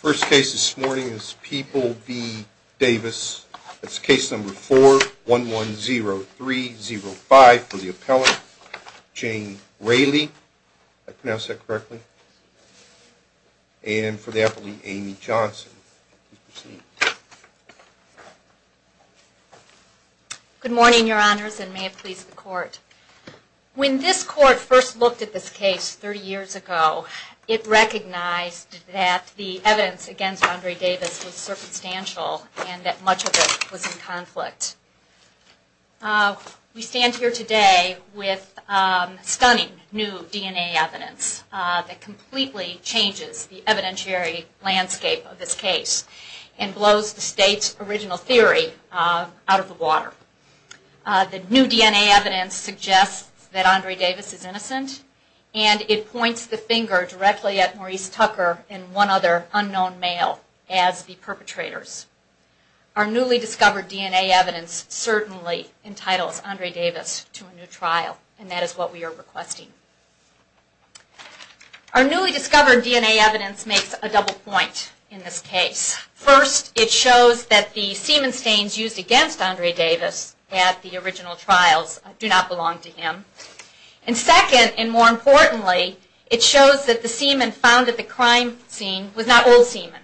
First case this morning is People v. Davis. It's case number 4110305 for the appellant, Jane Raley. Did I pronounce that correctly? And for the appellant, Amy Johnson. Good morning, your honors, and may it please the court. When this court first looked at this case 30 years ago, it recognized that the evidence against Andre Davis was circumstantial and that much of it was in conflict. We stand here today with stunning new DNA evidence that completely changes the evidentiary landscape of this case and blows the state's original theory out of the water. The new DNA evidence suggests that Andre Davis is innocent and it points the finger directly at Maurice Tucker and one other unknown male as the perpetrators. Our newly discovered DNA evidence certainly entitles Andre Davis to a new trial and that is what we are requesting. Our newly discovered DNA evidence makes a double point in this case. First, it shows that the semen stains used against Andre Davis at the original trials do not belong to him. And second, and more importantly, it shows that the semen found at the crime scene was not old semen.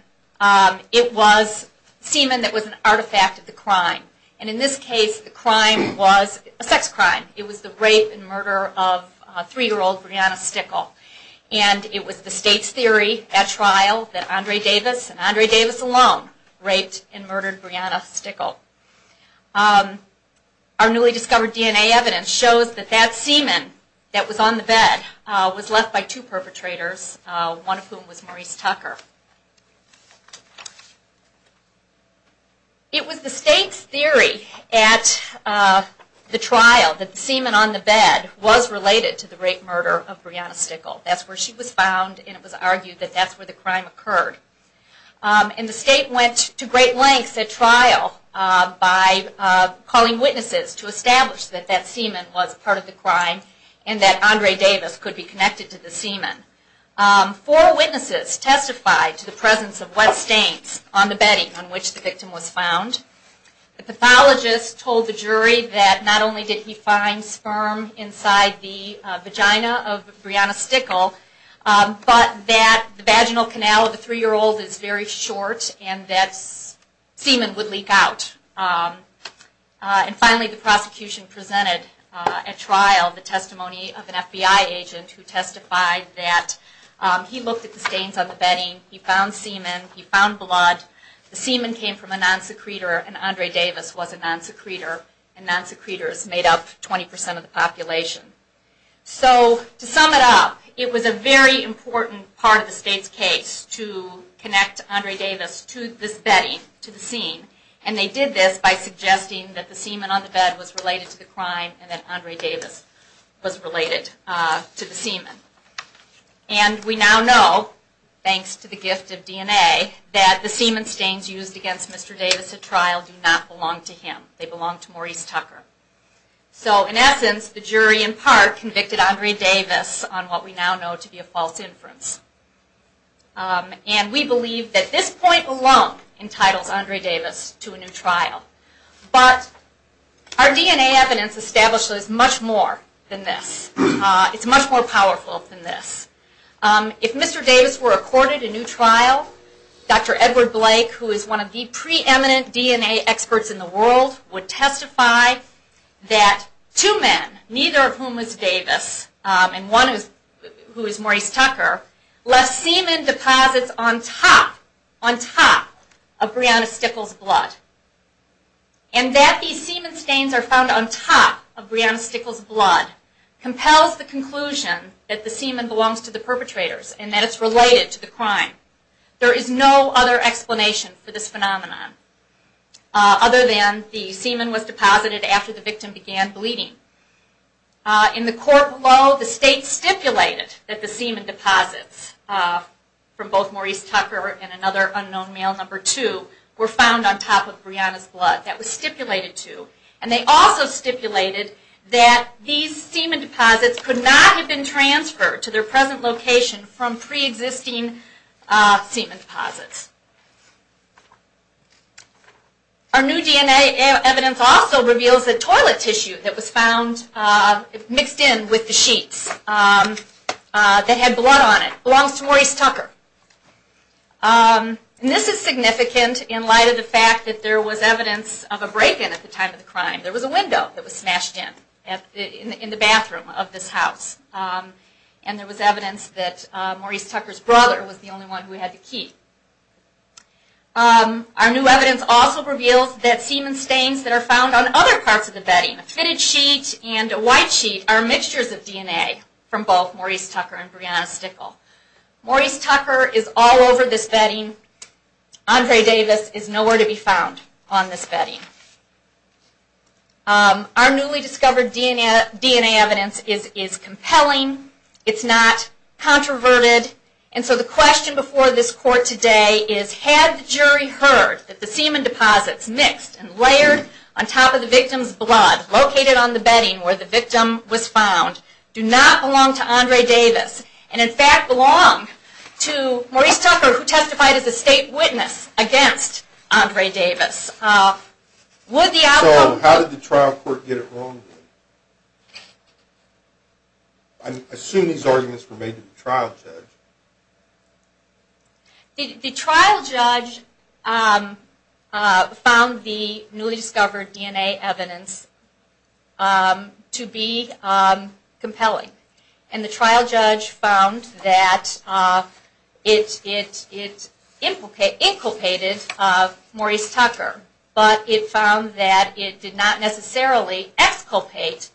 It was semen that was an artifact of the crime. And in this case, the crime was a sex crime. It was the rape and murder of three-year-old Brianna Stickle. And it was the state's theory at trial that Andre Davis and Brianna Stickle. Our newly discovered DNA evidence shows that that semen that was on the bed was left by two perpetrators, one of whom was Maurice Tucker. It was the state's theory at the trial that the semen on the bed was related to the rape and murder of Brianna Stickle. That's where she was found and it was argued that that's where the crime occurred. And the state went to great lengths at trial by calling witnesses to establish that that semen was part of the crime and that Andre Davis could be connected to the semen. Four witnesses testified to the presence of wet stains on the bedding on which the victim was found. The pathologist told the jury that not only did he find sperm inside the vagina of Brianna Stickle, but that the vaginal canal of the three-year-old is very short and that semen would leak out. And finally the prosecution presented at trial the testimony of an FBI agent who testified that he looked at the stains on the bedding, he found semen, he found blood. The semen came from a non-secreter and Andre Davis was a non-secreter and non-secreters made up 20% of the population. So to sum it up, it was a very important part of the state's case to connect Andre Davis to this bedding, to the scene, and they did this by suggesting that the semen on the bed was related to the crime and that Andre Davis was related to the semen. And we now know, thanks to the gift of DNA, that the semen stains used against Mr. Davis at trial do not belong to him. They belong to Maurice Tucker. So in essence the jury in part convicted Andre Davis on what we now know to be a false inference. And we believe that this point alone entitles Andre Davis to a new trial. But our DNA evidence establishes much more than this. It's much more powerful than this. If Mr. Davis were accorded a new trial, Dr. Edward Blake, who is one of the preeminent DNA experts in the world, would testify that two men, neither of whom was Davis, and one who is Maurice Tucker, left semen deposits on top, on top of Breonna Stickel's blood. And that these semen stains are found on top of Breonna Stickel's blood compels the conclusion that the semen belongs to the perpetrators and that it's related to the crime. There is no other explanation for this phenomenon other than the semen was deposited after the victim began bleeding. In the court below, the state stipulated that the semen deposits from both Maurice Tucker and another unknown male, number two, were found on top of Breonna's blood. That was stipulated to. And they also stipulated that these semen deposits could not have been transferred to their present location from pre-existing semen deposits. Our new DNA evidence also reveals that toilet tissue that was found mixed in with the sheets that had blood on it belongs to Maurice Tucker. And this is significant in light of the fact that there was evidence of a break-in at the time of the crime. There was a window that was smashed in, in the bathroom of this house. And there was evidence that Maurice Tucker's brother was the only one who had the key. Our new evidence also reveals that semen stains that are found on other parts of the bedding, a fitted sheet and a white sheet, are mixtures of DNA from both Maurice Tucker and Breonna Stickel. Maurice Tucker is all over this bedding. Andre Davis is nowhere to be found on this bedding. Our newly discovered DNA evidence is compelling. It's not controverted. And so the question before this court today is, had the jury heard that the semen deposits mixed and layered on top of the victim's blood located on the bedding where the victim was found do not belong to Andre Davis, and in fact belong to Maurice Tucker who testified as a state witness against Andre Davis? So how did the trial court get it wrong? I assume these arguments were made to the trial judge. The trial judge found the newly discovered DNA evidence to be compelling. And the trial judge found that it inculcated Maurice Tucker, but it found that it did not necessarily exculpate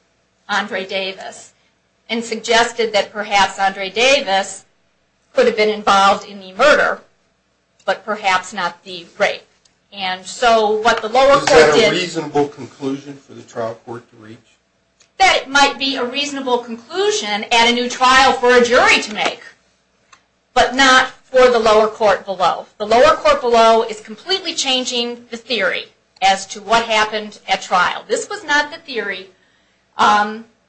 Andre Davis and suggested that perhaps Andre Davis could have been involved in the murder, but perhaps not the rape. And so what the lower court did... Is that a reasonable conclusion for the trial court to reach? That might be a reasonable conclusion at a new trial for a jury to make, but not for the lower court below. The lower court below is completely changing the theory as to what happened at trial. This was not the theory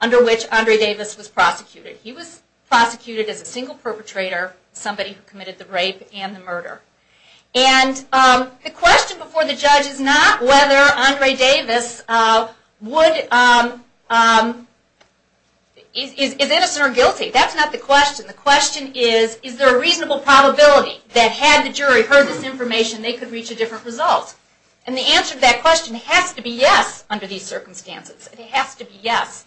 under which Andre Davis was prosecuted. He was prosecuted as a single perpetrator, somebody who committed the rape and the murder. And the question before the judge is not whether Andre Davis would... Is innocent or guilty? That's not the question. The question is, is there a reasonable probability that had the jury heard this information, they could reach a different result? And the answer to that question has to be yes under these circumstances. It has to be yes.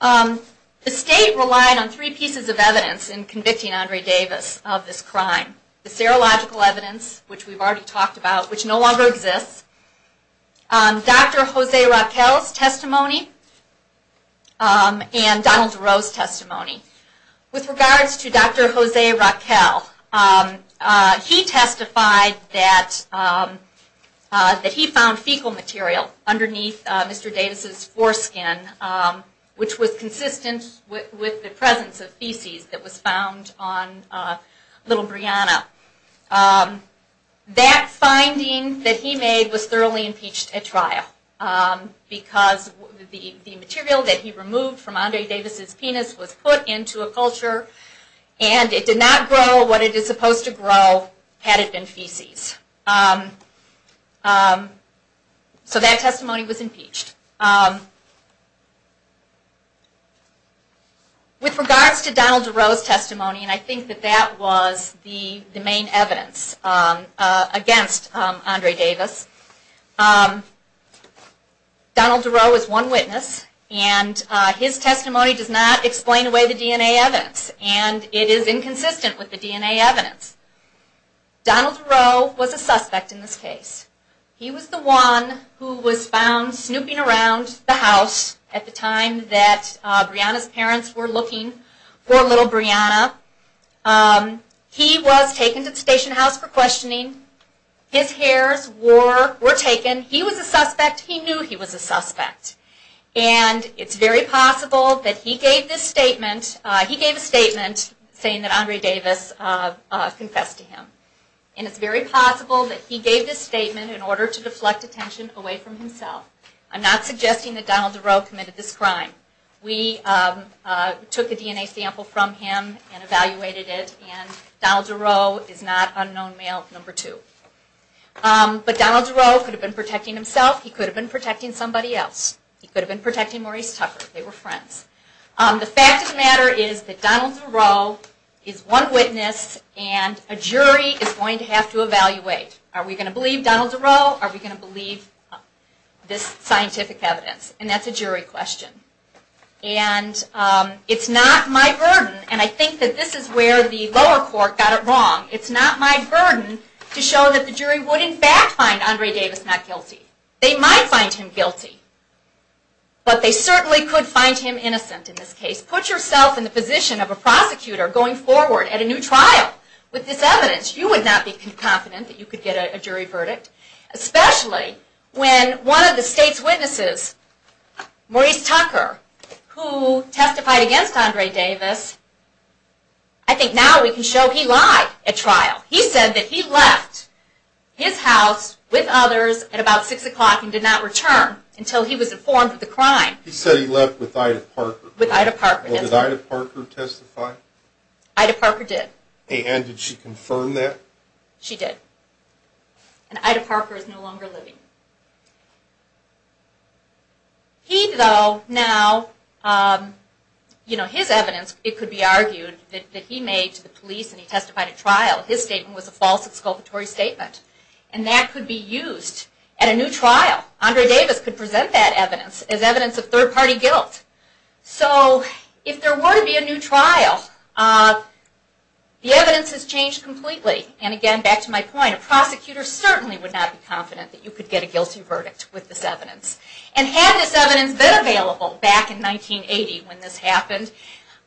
The state relied on three pieces of evidence in convicting Andre Davis of this crime. The serological evidence, which we've already talked about, which no longer exists. Dr. Jose Raquel's testimony and Donald DeRose's testimony. With regards to Dr. Jose Raquel, he testified that he found fecal material underneath Mr. Davis's foreskin, which was consistent with the presence of feces that was found on little Brianna. That finding that he made was thoroughly impeached at trial. Because the material that he removed from Andre Davis's penis was put into a culture and it did not grow what it is supposed to grow had it been feces. So that testimony was impeached. With regards to Donald DeRose's testimony, and I think that that was the main evidence against Andre Davis. Donald DeRose is one witness and his testimony does not explain away the DNA evidence and it is inconsistent with the DNA evidence. Donald DeRose was a suspect in this case. He was the one who was found snooping around the house at the time that Brianna's parents were looking for little Brianna. He was taken to the station house for questioning. His hairs were taken. He was a suspect. He knew he was a suspect. And it's very possible that he gave this statement. He gave a statement saying that Andre Davis confessed to him. And it's very possible that he gave this statement in order to deflect attention away from himself. I'm not suggesting that Donald DeRose committed this crime. We took a DNA sample from him and evaluated it and Donald DeRose is not unknown male number two. But Donald DeRose could have been protecting himself. He could have been protecting somebody else. He could have been protecting Maurice Tucker. They were friends. The fact of the matter is that Donald DeRose is one witness and a jury is going to have to evaluate. Are we going to believe Donald DeRose? Are we going to believe this scientific evidence? And that's a jury question. And it's not my burden and I think that this is where the lower court got it wrong. It's not my burden to show that the jury would in fact find Andre Davis not guilty. They might find him guilty, but they certainly could find him innocent in this case. Put yourself in the position of a prosecutor going forward at a new trial with this evidence. You would not be confident that you could get a jury verdict. Especially when one of the state's witnesses, Maurice Tucker, who testified against Andre Davis, I think now we can show he lied at trial. He said that he left his house with others at about 6 o'clock and did not return until he was informed of the crime. He said he left with Ida Parker. With Ida Parker, yes. Did Ida Parker testify? Ida Parker did. And did she confirm that? She did. And Ida Parker is no longer living. He though, now, his evidence, it could be argued, that he made to the police and he testified at trial. His statement was a false exculpatory statement. And that could be used at a new trial. Andre Davis could present that evidence as evidence of third party guilt. So, if there were to be a new trial, the evidence has changed completely. And again, back to my point, a prosecutor certainly would not be confident that you could get a guilty verdict with this evidence. And had this evidence been available back in 1980 when this happened,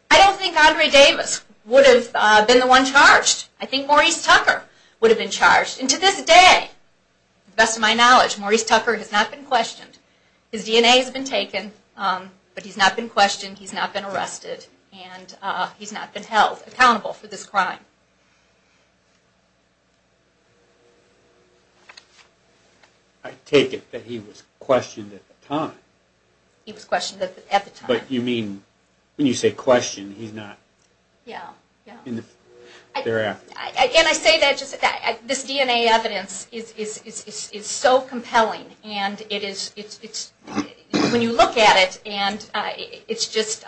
I don't think Andre Davis would have been the one charged. I think Maurice Tucker would have been charged. And to this day, to the best of my knowledge, Maurice Tucker has not been questioned. His DNA has been taken. But he's not been questioned. He's not been arrested. And he's not been held accountable for this crime. I take it that he was questioned at the time. He was questioned at the time. But you mean, when you say questioned, he's not... Yeah, yeah. And I say that just... This DNA evidence is so compelling. And it is... When you look at it, it's just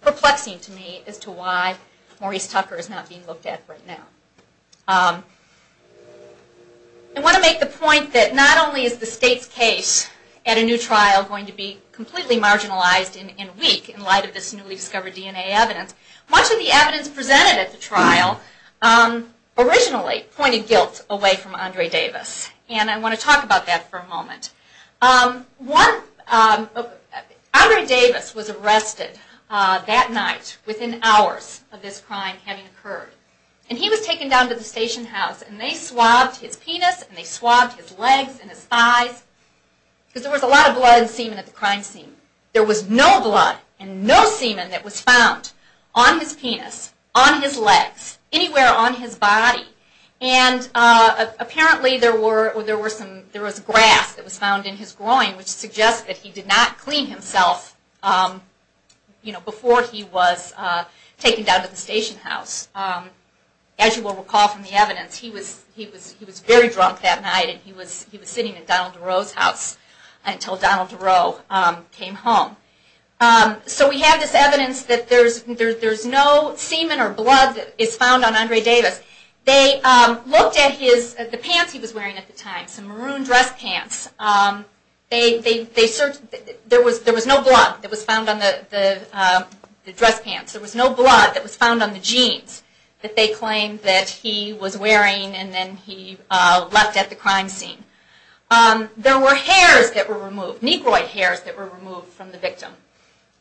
perplexing to me as to why Maurice Tucker is not being looked at right now. I want to make the point that not only is the state's case at a new trial going to be completely marginalized and weak in light of this newly discovered DNA evidence, much of the evidence presented at the trial originally pointed guilt away from Andre Davis. And I want to talk about that for a moment. Andre Davis was arrested that night within hours of this crime having occurred. And he was taken down to the station house. And they swabbed his penis. And they swabbed his legs and his thighs. Because there was a lot of blood and semen at the crime scene. There was no blood and no semen that was found on his penis, on his legs, anywhere on his body. And apparently there was grass that was found in his groin, which suggests that he did not clean himself before he was taken down to the station house. As you will recall from the evidence, he was very drunk that night. And he was sitting at Donald DeRoe's house until Donald DeRoe came home. So we have this evidence that there is no semen or blood that is found on Andre Davis. They looked at the pants he was wearing at the time, some maroon dress pants. There was no blood that was found on the dress pants. There was no blood that was found on the jeans that they claimed that he was wearing. And then he left at the crime scene. There were hairs that were removed. Negroid hairs that were removed from the victim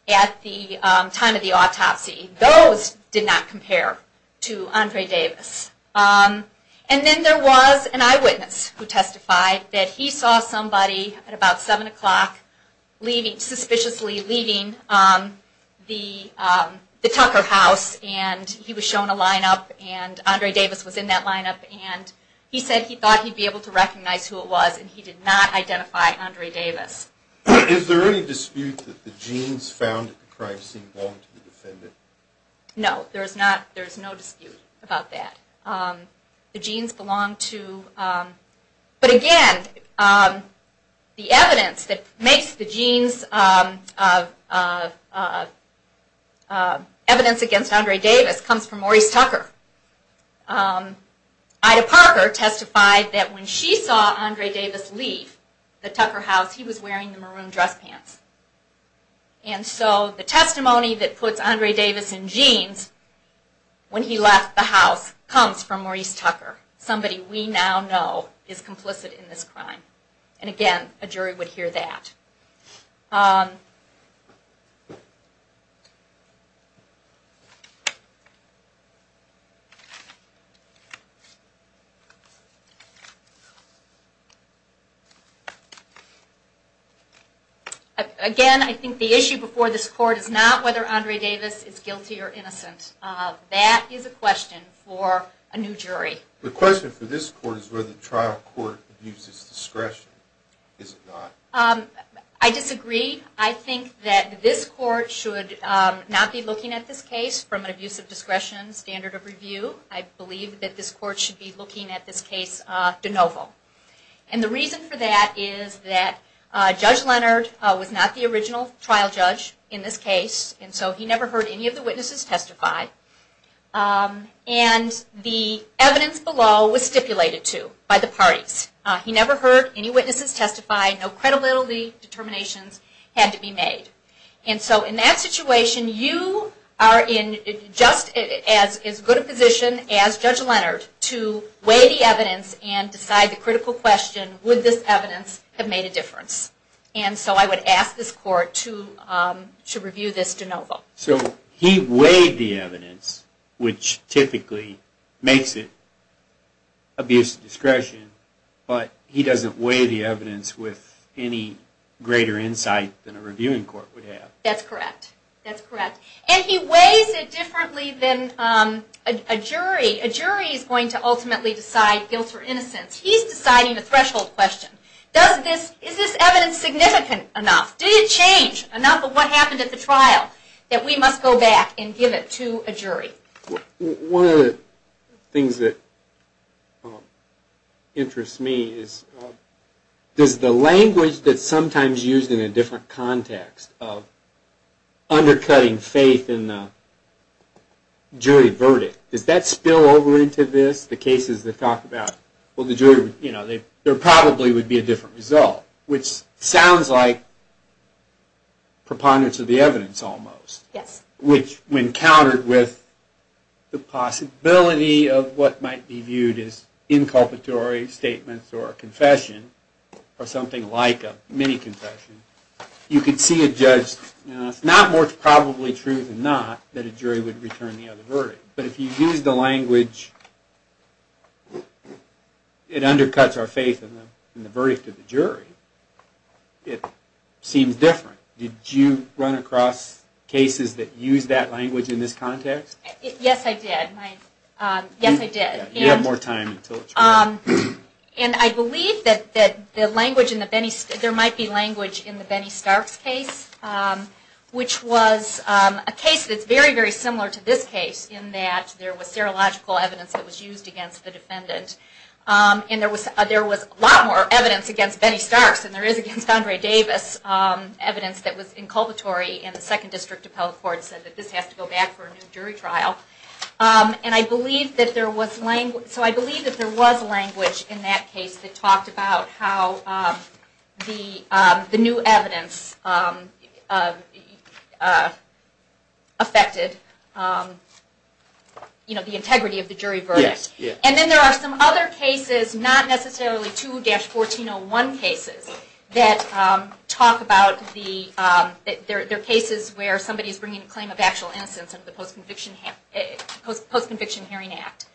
at the time of the autopsy. Those did not compare to Andre Davis. And then there was an eyewitness who testified that he saw somebody at about 7 o'clock suspiciously leaving the Tucker house. He was shown a lineup and Andre Davis was in that lineup. He said he thought he would be able to recognize who it was and he did not identify Andre Davis. Is there any dispute that the jeans found at the crime scene belonged to the defendant? No, there is no dispute about that. The jeans belonged to... But again, the evidence that makes the jeans evidence against Andre Davis comes from Maurice Tucker. Ida Parker testified that when she saw Andre Davis leave the Tucker house he was wearing the maroon dress pants. And so the testimony that puts Andre Davis in jeans when he left the house comes from Maurice Tucker, somebody we now know is complicit in this crime. And again, a jury would hear that. Again, I think the issue before this court is not whether Andre Davis is guilty or innocent. That is a question for a new jury. The question for this court is whether the trial court abuses discretion. Is it not? I disagree. I think that this court should not be looking at this case from an abusive discretion standard of review. I believe that this court should be looking at this case de novo. And the reason for that is that Judge Leonard was not the original trial judge in this case. And so he never heard any of the witnesses testify. And the evidence below was stipulated to by the parties. He never heard any witnesses testify. No credibility determinations had to be made. And so in that situation you are in just as good a position as Judge Leonard to weigh the evidence and decide the critical question, would this evidence have made a difference? And so I would ask this court to review this de novo. So he weighed the evidence, which typically makes it abuse of discretion, but he doesn't weigh the evidence with any greater insight than a reviewing court would have. That's correct. That's correct. And he weighs it differently than a jury. A jury is going to ultimately decide guilt or innocence. He's deciding the threshold question. Is this evidence significant enough? Did it change enough of what happened at the trial that we must go back and give it to a jury? One of the things that interests me is the language that's sometimes used in a different context of undercutting faith in the jury verdict. Does that spill over into this, the cases that talk about, there probably would be a different result, which sounds like preponderance of the evidence almost. Yes. Which when countered with the possibility of what might be viewed as inculpatory statements or a confession, or something like a mini-confession, you could see a judge, it's not more probably true than not that a jury would return the other verdict. But if you use the language, it undercuts our faith in the verdict of the jury. It seems different. Did you run across cases that used that language in this context? Yes, I did. Yes, I did. You have more time. And I believe that there might be language in the Benny Starks case, which was a case that's very, very similar to this case, in that there was serological evidence that was used against the defendant. And there was a lot more evidence against Benny Starks than there is against Andre Davis. Evidence that was inculpatory in the Second District Appellate Court said that this has to go back for a new jury trial. And I believe that there was language in that case that talked about how the new evidence affected the integrity of the jury verdict. And then there are some other cases, not necessarily 2-1401 cases, that talk about the cases where somebody is bringing a claim of actual innocence under the Post-Conviction Hearing Act,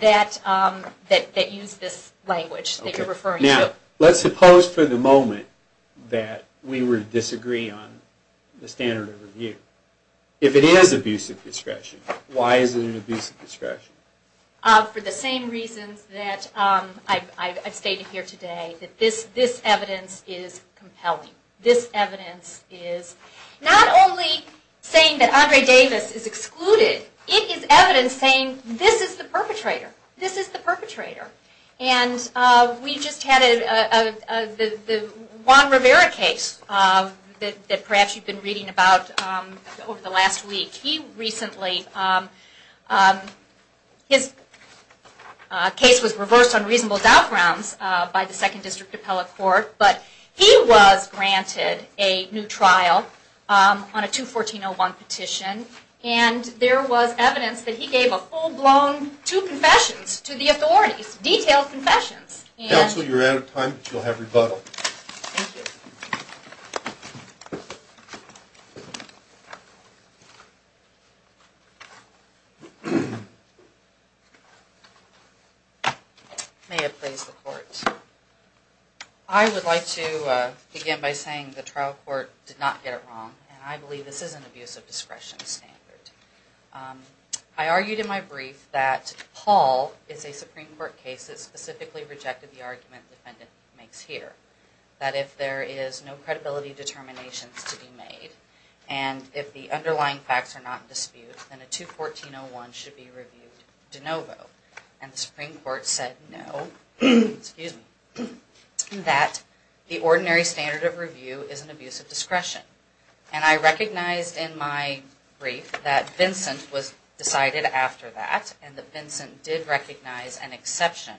that use this language that you're referring to. Now, let's suppose for the moment that we were to disagree on the standard of review. If it is abusive discretion, why is it an abusive discretion? For the same reasons that I've stated here today, that this evidence is compelling. This evidence is not only saying that Andre Davis is excluded, it is evidence saying this is the perpetrator. This is the perpetrator. And we just had the Juan Rivera case that perhaps you've been reading about over the last week. He recently, his case was reversed on reasonable doubt grounds by the Second District Appellate Court, but he was granted a new trial on a 2-1401 petition. And there was evidence that he gave a full-blown two confessions to the authorities, detailed confessions. Counsel, you're out of time, but you'll have rebuttal. Thank you. May it please the Court. I would like to begin by saying the trial court did not get it wrong, and I believe this is an abusive discretion standard. I argued in my brief that Paul is a Supreme Court case that specifically rejected the argument the defendant makes here, that if there is no credibility determinations to be made, and if the underlying facts are not in dispute, then a 2-1401 should be reviewed de novo. And the Supreme Court said no, excuse me, that the ordinary standard of review is an abusive discretion. And I recognized in my brief that Vincent was decided after that, and that Vincent did recognize an exception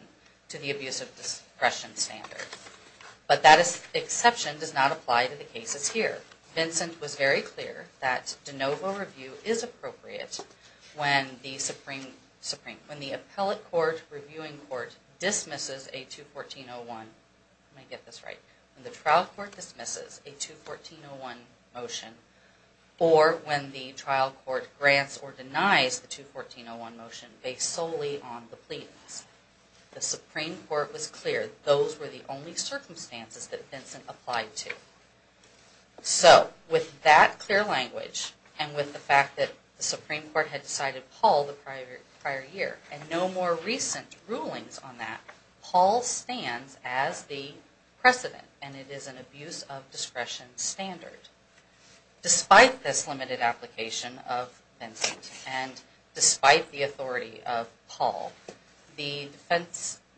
to the abusive discretion standard. But that exception does not apply to the cases here. Vincent was very clear that de novo review is appropriate when the Supreme, when the appellate court, reviewing court dismisses a 2-1401, let me get this right, when the trial court dismisses a 2-1401 motion, or when the trial court grants or denies the 2-1401 motion based solely on the pleadings. The Supreme Court was clear those were the only circumstances that Vincent applied to. So, with that clear language, and with the fact that the Supreme Court had decided Paul the prior year, and no more recent rulings on that, Paul stands as the precedent, and it is an abuse of discretion standard. Despite this limited application of Vincent, and despite the authority of Paul, the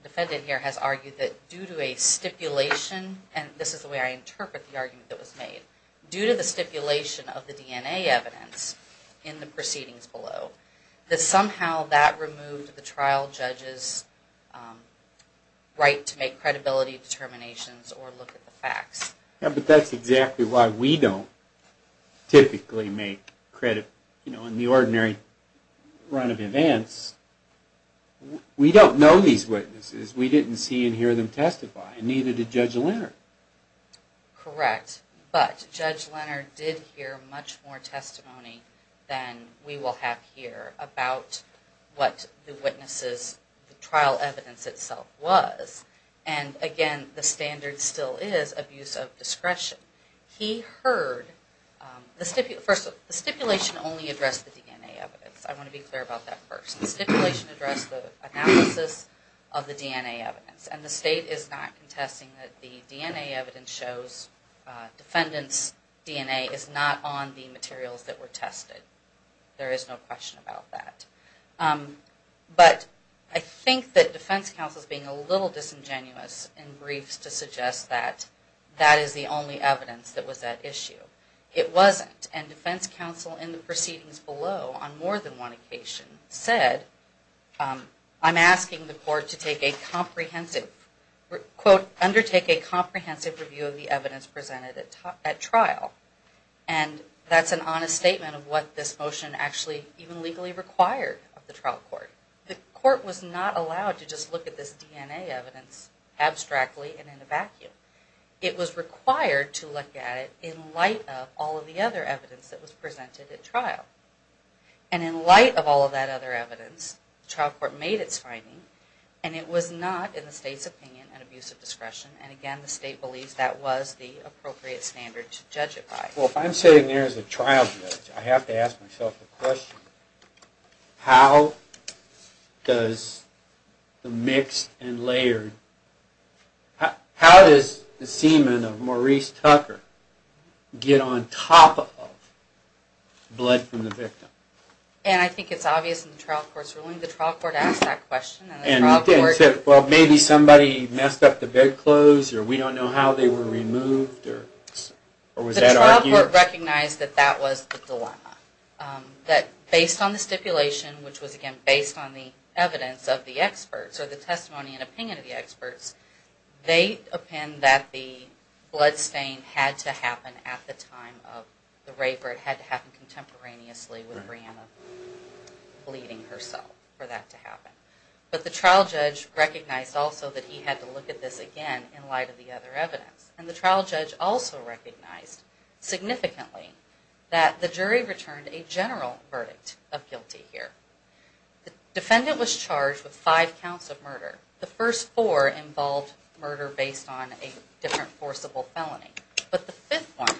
defendant here has argued that due to a stipulation, and this is the way I interpret the argument that was made, due to the stipulation of the DNA evidence in the proceedings below, that somehow that removed the trial judge's right to make credibility determinations or look at the facts. Yeah, but that's exactly why we don't typically make, you know, in the ordinary run of events, we don't know these witnesses, we didn't see and hear them testify, and neither did Judge Leonard. Correct, but Judge Leonard did hear much more testimony than we will have here about what the trial evidence itself was, and again, the standard still is abuse of discretion. He heard, first, the stipulation only addressed the DNA evidence, I want to be clear about that first. The stipulation addressed the analysis of the DNA evidence, and the state is not contesting that the DNA evidence shows, defendant's DNA is not on the materials that were tested. There is no question about that. But, I think that defense counsel is being a little disingenuous in briefs to suggest that that is the only evidence that was at issue. It wasn't, and defense counsel in the proceedings below, on more than one occasion, said, I'm asking the court to take a comprehensive, quote, undertake a comprehensive review of the evidence presented at trial, and that's an honest statement of what this motion actually even legally required of the trial court. The court was not allowed to just look at this DNA evidence abstractly and in a vacuum. It was required to look at it in light of all of the other evidence that was presented at trial. And in light of all of that other evidence, the trial court made its finding, and it was not, in the state's opinion, an abuse of discretion, and again, the state believes that was the appropriate standard to judge it by. Well, if I'm sitting there as a trial judge, I have to ask myself the question, how does the mixed and layered, how does the semen of Maurice Tucker get on top of blood from the victim? And I think it's obvious in the trial court's ruling. The trial court asked that question. Well, maybe somebody messed up the bedclothes, or we don't know how they were removed, or was that argued? The trial court recognized that that was the dilemma. That based on the stipulation, which was, again, based on the evidence of the experts, or the testimony and opinion of the experts, they append that the bloodstain had to happen at the time of the rape, or it had to happen contemporaneously with Breanna bleeding herself for that to happen. But the trial judge recognized also that he had to look at this again in light of the other evidence. And the trial judge also recognized significantly that the jury returned a general verdict of guilty here. The defendant was charged with five counts of murder. The first four involved murder based on a different forcible felony. But the fifth one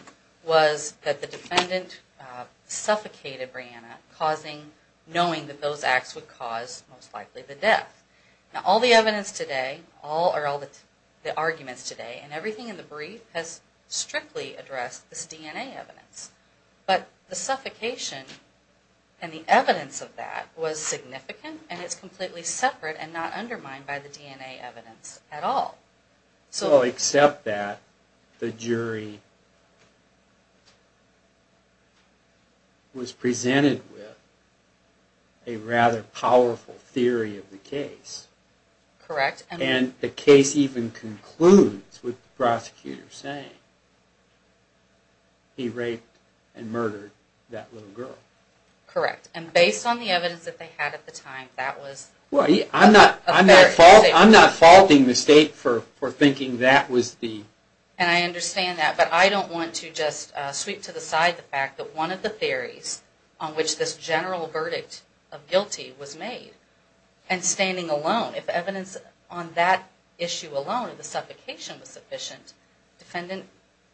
was that the defendant suffocated Breanna, knowing that those acts would cause, most likely, the death. Now, all the evidence today, or all the arguments today, and everything in the brief has strictly addressed this DNA evidence. But the suffocation and the evidence of that was significant, and it's completely separate and not undermined by the DNA evidence at all. So, except that, the jury was presented with a rather powerful theory of the case. Correct. And the case even concludes with the prosecutor saying, he raped and murdered that little girl. Correct. And based on the evidence that they had at the time, that was... Well, I'm not faulting the state for thinking that was the... And I understand that, but I don't want to just sweep to the side the fact that one of the theories on which this general verdict of guilty was made, and standing alone, if evidence on that issue alone, the suffocation was sufficient, the defendant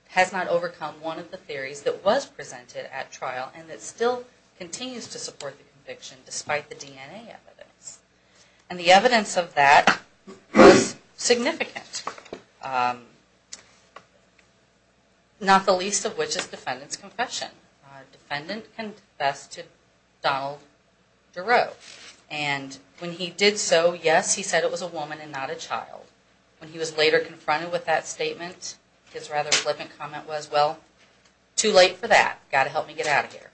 has not overcome one of the theories that was presented at trial, and that still continues to support the conviction, despite the DNA evidence. And the evidence of that was significant. Not the least of which is the defendant's confession. The defendant confessed to Donald Duro. And when he did so, yes, he said it was a woman and not a child. When he was later confronted with that statement, his rather flippant comment was, well, too late for that. Got to help me get out of here.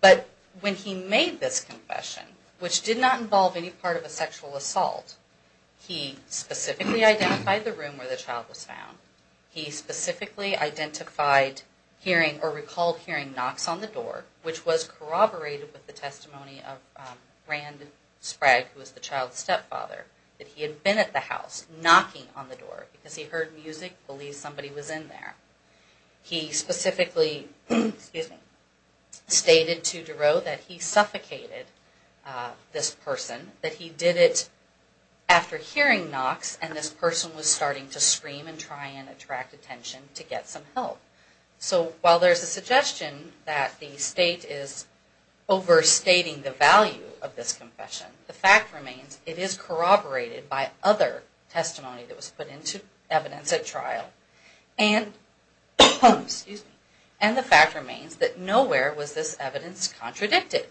But when he made this confession, which did not involve any part of a sexual assault, he specifically identified the room where the child was found. He specifically identified hearing, or recalled hearing knocks on the door, which was corroborated with the testimony of Rand Sprague, who was the child's stepfather, that he had been at the house, knocking on the door, because he heard music, believed somebody was in there. He specifically stated to Duro that he suffocated this person, that he did it after hearing knocks, and this person was starting to scream and try and attract attention to get some help. So while there's a suggestion that the state is overstating the value of this confession, the fact remains it is corroborated by other testimony that was put into evidence at trial. And the fact remains that nowhere was this evidence contradicted.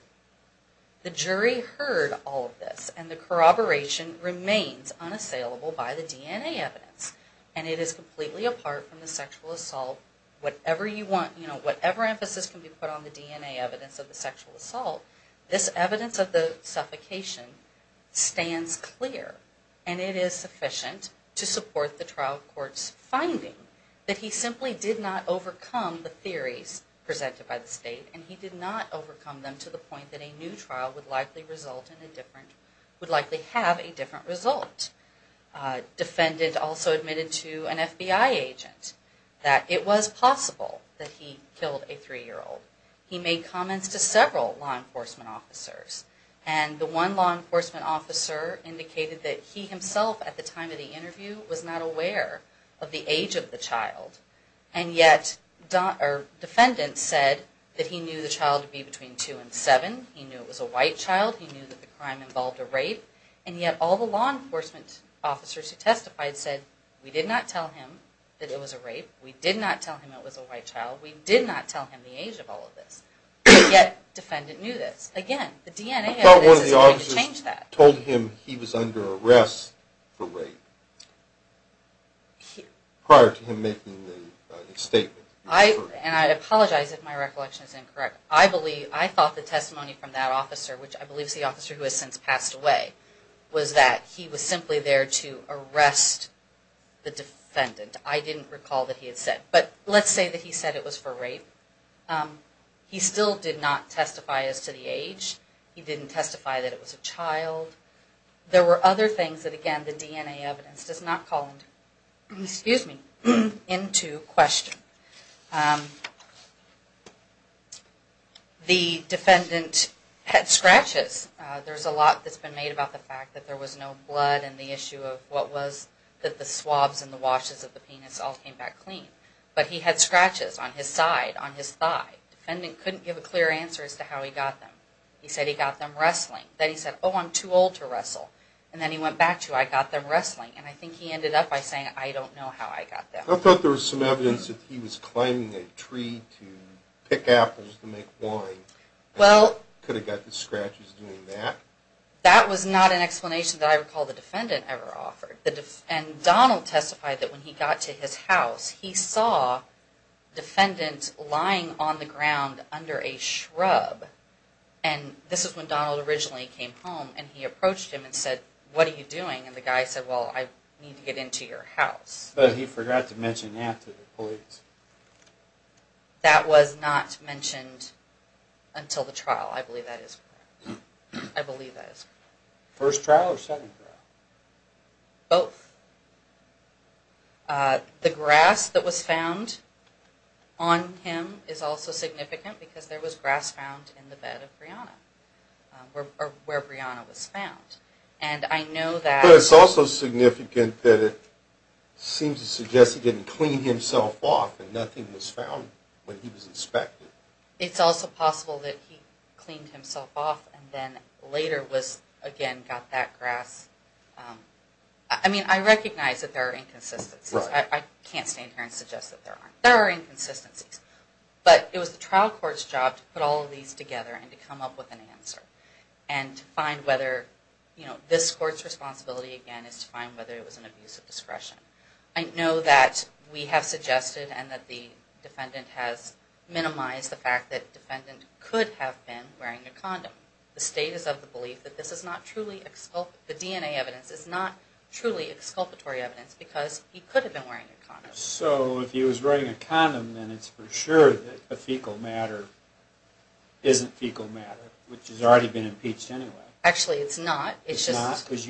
The jury heard all of this, and the corroboration remains unassailable by the DNA evidence. And it is completely apart from the sexual assault. Whatever emphasis can be put on the DNA evidence of the sexual assault, this evidence of the suffocation stands clear, and it is sufficient to support the trial court's finding that he simply did not overcome the theories presented by the state, and he did not overcome them to the point that a new trial would likely have a different result. A defendant also admitted to an FBI agent that it was possible that he killed a three-year-old. He made comments to several law enforcement officers, and the one law enforcement officer indicated that he himself at the time of the interview was not aware of the age of the child, and yet defendants said that he knew the child to be between two and seven, he knew it was a white child, he knew that the crime involved a rape, and yet all the law enforcement officers who testified said, we did not tell him that it was a rape, we did not tell him it was a white child, we did not tell him the age of all of this, and yet defendant knew this. Again, the DNA evidence is going to change that. I thought one of the officers told him he was under arrest for rape prior to him making the statement. And I apologize if my recollection is incorrect. I thought the testimony from that officer, which I believe is the officer who has since passed away, was that he was simply there to arrest the defendant. I didn't recall that he had said. But let's say that he said it was for rape. He still did not testify as to the age. He didn't testify that it was a child. There were other things that, again, the DNA evidence does not call into question. The defendant had scratches. There's a lot that's been made about the fact that there was no blood and the issue of what was that the swabs and the washes of the penis all came back clean. But he had scratches on his side, on his thigh. Defendant couldn't give a clear answer as to how he got them. He said he got them wrestling. Then he said, oh, I'm too old to wrestle. And then he went back to, I got them wrestling. And I think he ended up by saying, I don't know how I got them. I thought there was some evidence that he was climbing a tree to pick apples to make wine. Could have got the scratches doing that. That was not an explanation that I recall the defendant ever offered. And Donald testified that when he got to his house, he saw defendants lying on the ground under a shrub. And this is when Donald originally came home and he approached him and said, what are you doing? And the guy said, well, I need to get into your house. But he forgot to mention that to the police. That was not mentioned until the trial. I believe that is correct. I believe that is correct. First trial or second trial? Both. The grass that was found on him is also significant because there was grass found in the bed of Brianna, or where Brianna was found. And I know that. But it's also significant that it seems to suggest he didn't clean himself off and nothing was found when he was inspected. It's also possible that he cleaned himself off and then later again got that grass. I mean, I recognize that there are inconsistencies. I can't stand here and suggest that there aren't. There are inconsistencies. But it was the trial court's job to put all of these together and to come up with an answer and to find whether this court's responsibility, again, is to find whether it was an abuse of discretion. I know that we have suggested and that the defendant has minimized the fact that the defendant could have been wearing a condom. The state is of the belief that this is not truly exculpatory. The DNA evidence is not truly exculpatory evidence because he could have been wearing a condom. So if he was wearing a condom, then it's for sure that the fecal matter isn't fecal matter, which has already been impeached anyway. Actually, it's not. It's not because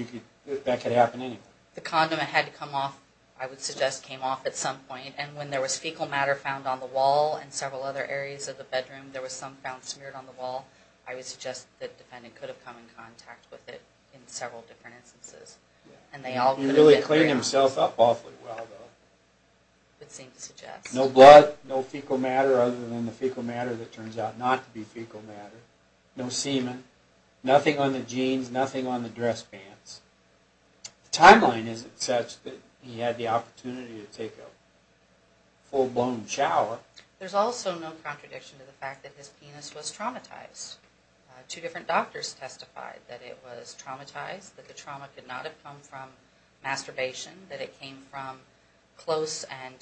that could happen anyway. The condom, it had to come off, I would suggest came off at some point. And when there was fecal matter found on the wall and several other areas of the bedroom, there was some found smeared on the wall, I would suggest that the defendant could have come in contact with it in several different instances. He really cleaned himself up awfully well, though. I would seem to suggest. No blood, no fecal matter other than the fecal matter that turns out not to be fecal matter. No semen. Nothing on the jeans, nothing on the dress pants. The timeline isn't such that he had the opportunity to take a full-blown shower. There's also no contradiction to the fact that his penis was traumatized. Two different doctors testified that it was traumatized, that the trauma could not have come from masturbation, that it came from close and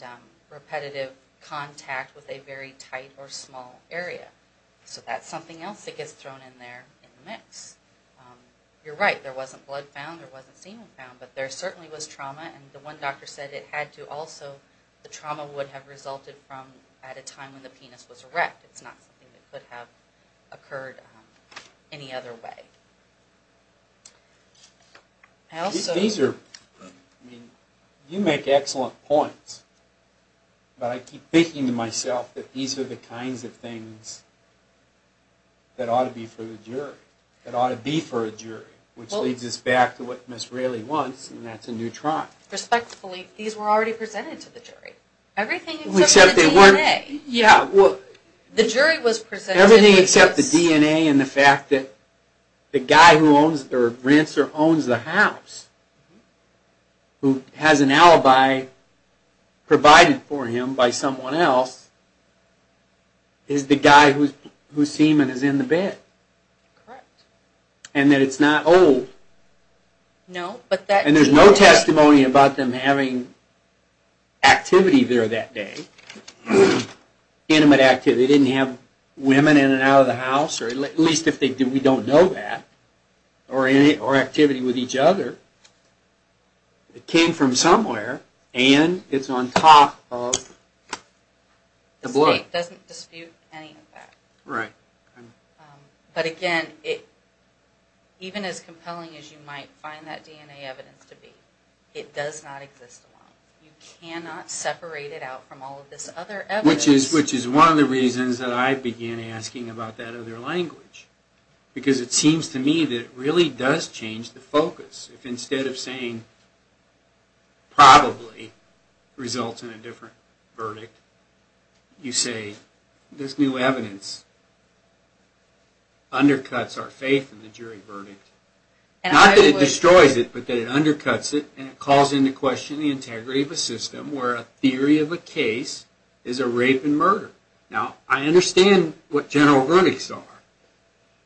repetitive contact with a very tight or small area. So that's something else that gets thrown in there in the mix. You're right, there wasn't blood found, there wasn't semen found, but there certainly was trauma, and the one doctor said it had to also, the trauma would have resulted from at a time when the penis was erect. It's not something that could have occurred any other way. You make excellent points, but I keep thinking to myself that these are the kinds of things that ought to be for the jury, that ought to be for a jury, which leads us back to what Ms. Railey wants, and that's a new trial. Respectfully, these were already presented to the jury. Everything except the DNA. Yeah, well... The jury was presented... Everything except the DNA and the fact that the guy who owns or rents or owns the house who has an alibi provided for him by someone else is the guy whose semen is in the bed. Correct. And that it's not old. No, but that... And there's no testimony about them having activity there that day, intimate activity. They didn't have women in and out of the house, or at least if they did, we don't know that, or activity with each other. It came from somewhere, and it's on top of the blood. It doesn't dispute any of that. Right. But again, even as compelling as you might find that DNA evidence to be, it does not exist alone. You cannot separate it out from all of this other evidence. Which is one of the reasons that I began asking about that other language, because it seems to me that it really does change the focus. If instead of saying, probably, results in a different verdict, you say, this new evidence undercuts our faith in the jury verdict. Not that it destroys it, but that it undercuts it, and it calls into question the integrity of a system where a theory of a case is a rape and murder. Now, I understand what general verdicts are,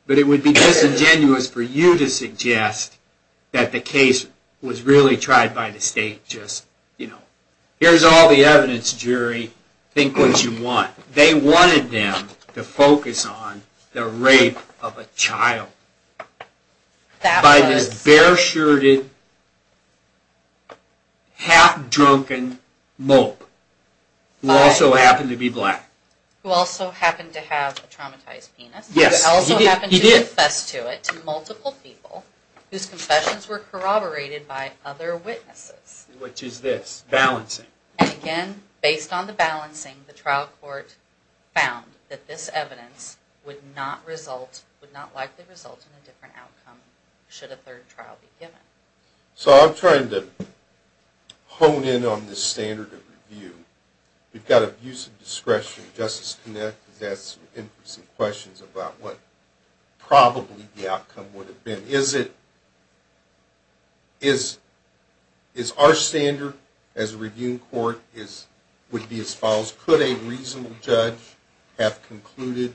but it would be disingenuous for you to suggest that the case was really tried by the state, just, you know, here's all the evidence, jury, think what you want. They wanted them to focus on the rape of a child. By this bare-shirted, half-drunken mope, who also happened to be black. Who also happened to have a traumatized penis. Yes, he did. Who also happened to confess to it to multiple people, whose confessions were corroborated by other witnesses. Which is this, balancing. And again, based on the balancing, the trial court found that this evidence would not result, would not likely result in a different outcome, should a third trial be given. So I'm trying to hone in on this standard of review. We've got abuse of discretion. Justice Connett has asked some interesting questions about what probably the outcome would have been. Is it, is our standard as a review court would be as follows? Could a reasonable judge have concluded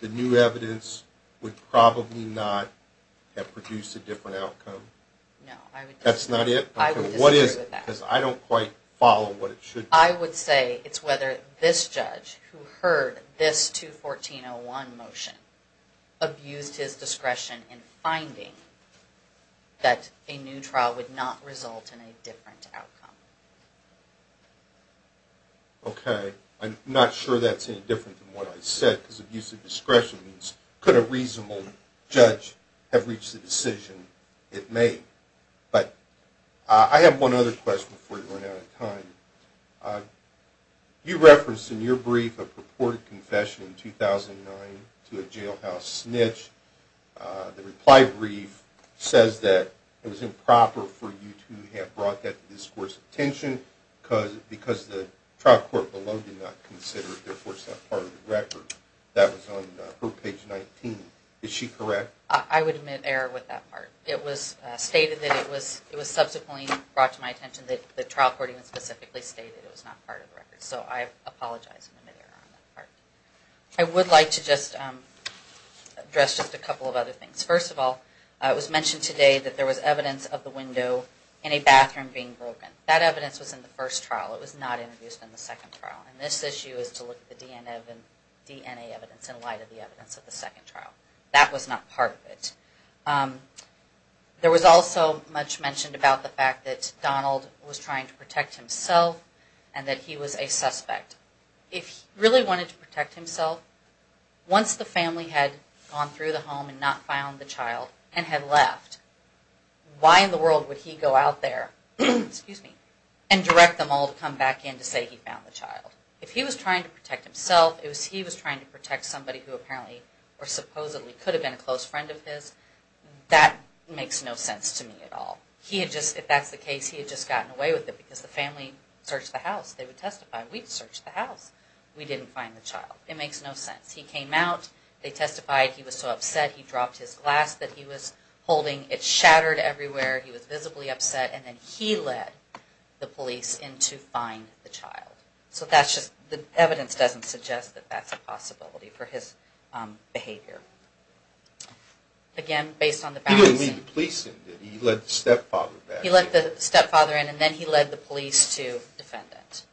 the new evidence would probably not have produced a different outcome? No, I would disagree. That's not it? I would disagree with that. Because I don't quite follow what it should be. I would say it's whether this judge, who heard this 214-01 motion, abused his discretion in finding that a new trial would not result in a different outcome. Okay. I'm not sure that's any different than what I said. Because abuse of discretion means could a reasonable judge have reached the decision? It may. But I have one other question before we run out of time. You referenced in your brief a purported confession in 2009 to a jailhouse snitch. The reply brief says that it was improper for you to have brought that to this court's attention because the trial court below did not consider it, therefore, is not part of the record. That was on page 19. Is she correct? I would admit error with that part. It was stated that it was subsequently brought to my attention that the trial court even specifically stated it was not part of the record. So I apologize for the error on that part. I would like to just address just a couple of other things. First of all, it was mentioned today that there was evidence of the window in a bathroom being broken. That evidence was in the first trial. It was not introduced in the second trial. And this issue is to look at the DNA evidence in light of the evidence of the second trial. That was not part of it. There was also much mentioned about the fact that Donald was trying to protect himself and that he was a suspect. If he really wanted to protect himself, once the family had gone through the home and not found the child and had left, why in the world would he go out there and direct them all to come back in to say he found the child? If he was trying to protect himself, if he was trying to protect somebody who apparently or supposedly could have been a close friend of his, that makes no sense to me at all. If that's the case, he had just gotten away with it because the family searched the house. They would testify. We searched the house. We didn't find the child. It makes no sense. He came out. They testified. He was so upset he dropped his glass that he was holding. It shattered everywhere. He was visibly upset. And then he led the police in to find the child. So that's just, the evidence doesn't suggest that that's a possibility for his behavior. Again, based on the facts. He didn't lead the police in, did he? He led the stepfather back in. He led the stepfather in and then he led the police to defend it.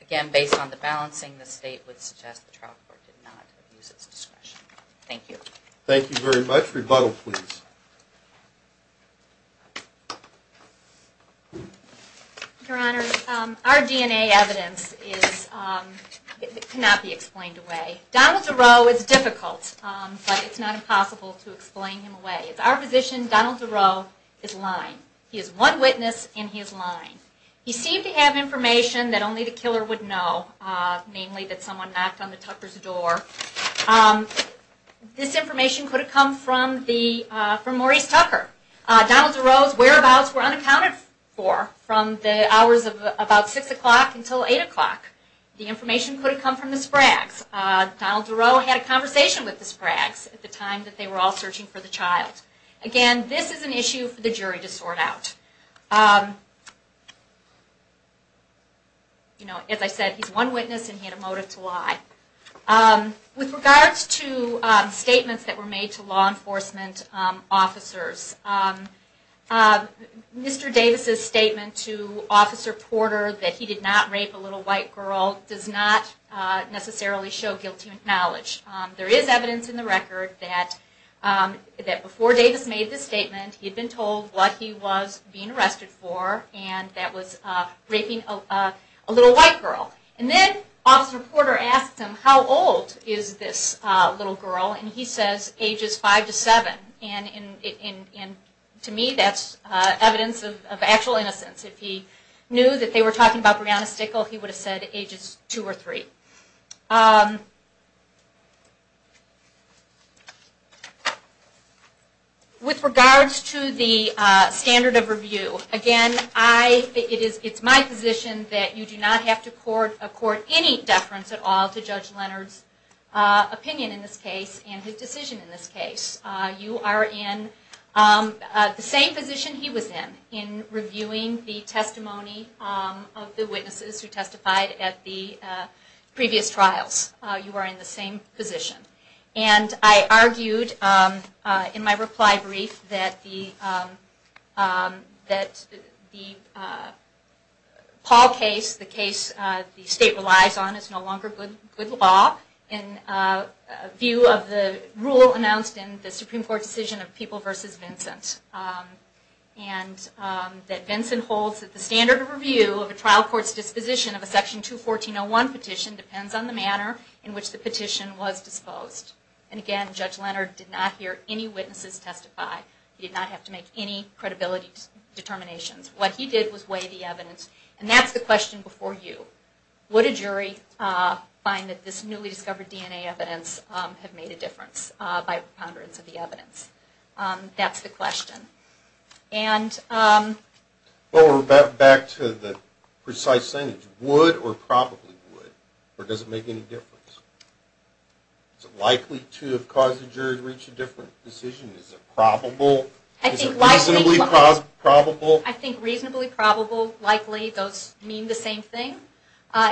Again, based on the balancing, the state would suggest the trial court did not use its discretion. Thank you. Thank you very much. Rebuttal, please. Your Honor, our DNA evidence cannot be explained away. Donald Duro is difficult, but it's not impossible to explain him away. It's our position Donald Duro is lying. He is one witness and he is lying. He seemed to have information that only the killer would know. Namely, that someone knocked on the Tucker's door. This information could have come from Maurice Tucker. Donald Duro's whereabouts were unaccounted for from the hours of about 6 o'clock until 8 o'clock. The information could have come from the Spragues. Donald Duro had a conversation with the Spragues at the time that they were all searching for the child. Again, this is an issue for the jury to sort out. As I said, he's one witness and he had a motive to lie. With regards to statements that were made to law enforcement officers, Mr. Davis' statement to Officer Porter that he did not rape a little white girl does not necessarily show guilty knowledge. There is evidence in the record that before Davis made this statement, he had been told what he was being arrested for and that was raping a little white girl. And then Officer Porter asked him, how old is this little girl? And he says, ages 5 to 7. And to me that's evidence of actual innocence. If he knew that they were talking about Breonna Stickle, he would have said ages 2 or 3. With regards to the standard of review, again, it is my position that you do not have to court any deference at all to Judge Leonard's opinion in this case and his decision in this case. You are in the same position he was in, in reviewing the testimony of the witnesses who testified at the previous trials. You are in the same position. And I argued in my reply brief that the Paul case, the case the state relies on, is no longer good law in view of the rule announced in the Supreme Court decision of People v. Vincent. And that Vincent holds that the standard of review of a trial court's disposition of a Section 214.01 petition depends on the manner in which the petition was disposed. And again, Judge Leonard did not hear any witnesses testify. He did not have to make any credibility determinations. What he did was weigh the evidence. And that's the question before you. Would a jury find that this newly discovered DNA evidence had made a difference by ponderance of the evidence? That's the question. And... Well, we're back to the precise sentence. Would or probably would? Or does it make any difference? Is it likely to have caused the jury to reach a different decision? Is it probable? Is it reasonably probable? I think reasonably probable, likely, those mean the same thing.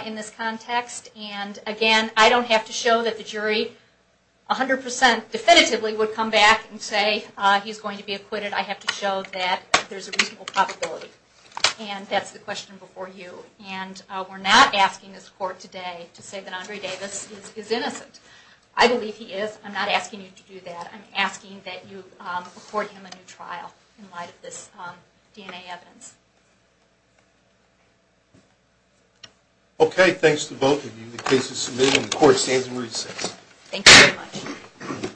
In this context. And again, I don't have to show that the jury 100% definitively would come back and say he's going to be acquitted. I have to show that there's a reasonable probability. And that's the question before you. And we're not asking this Court today to say that Andre Davis is innocent. I believe he is. I'm not asking you to do that. I'm asking that you afford him a new trial in light of this DNA evidence. Okay, thanks to both of you. The case is submitted and the Court stands in recess. Thank you very much.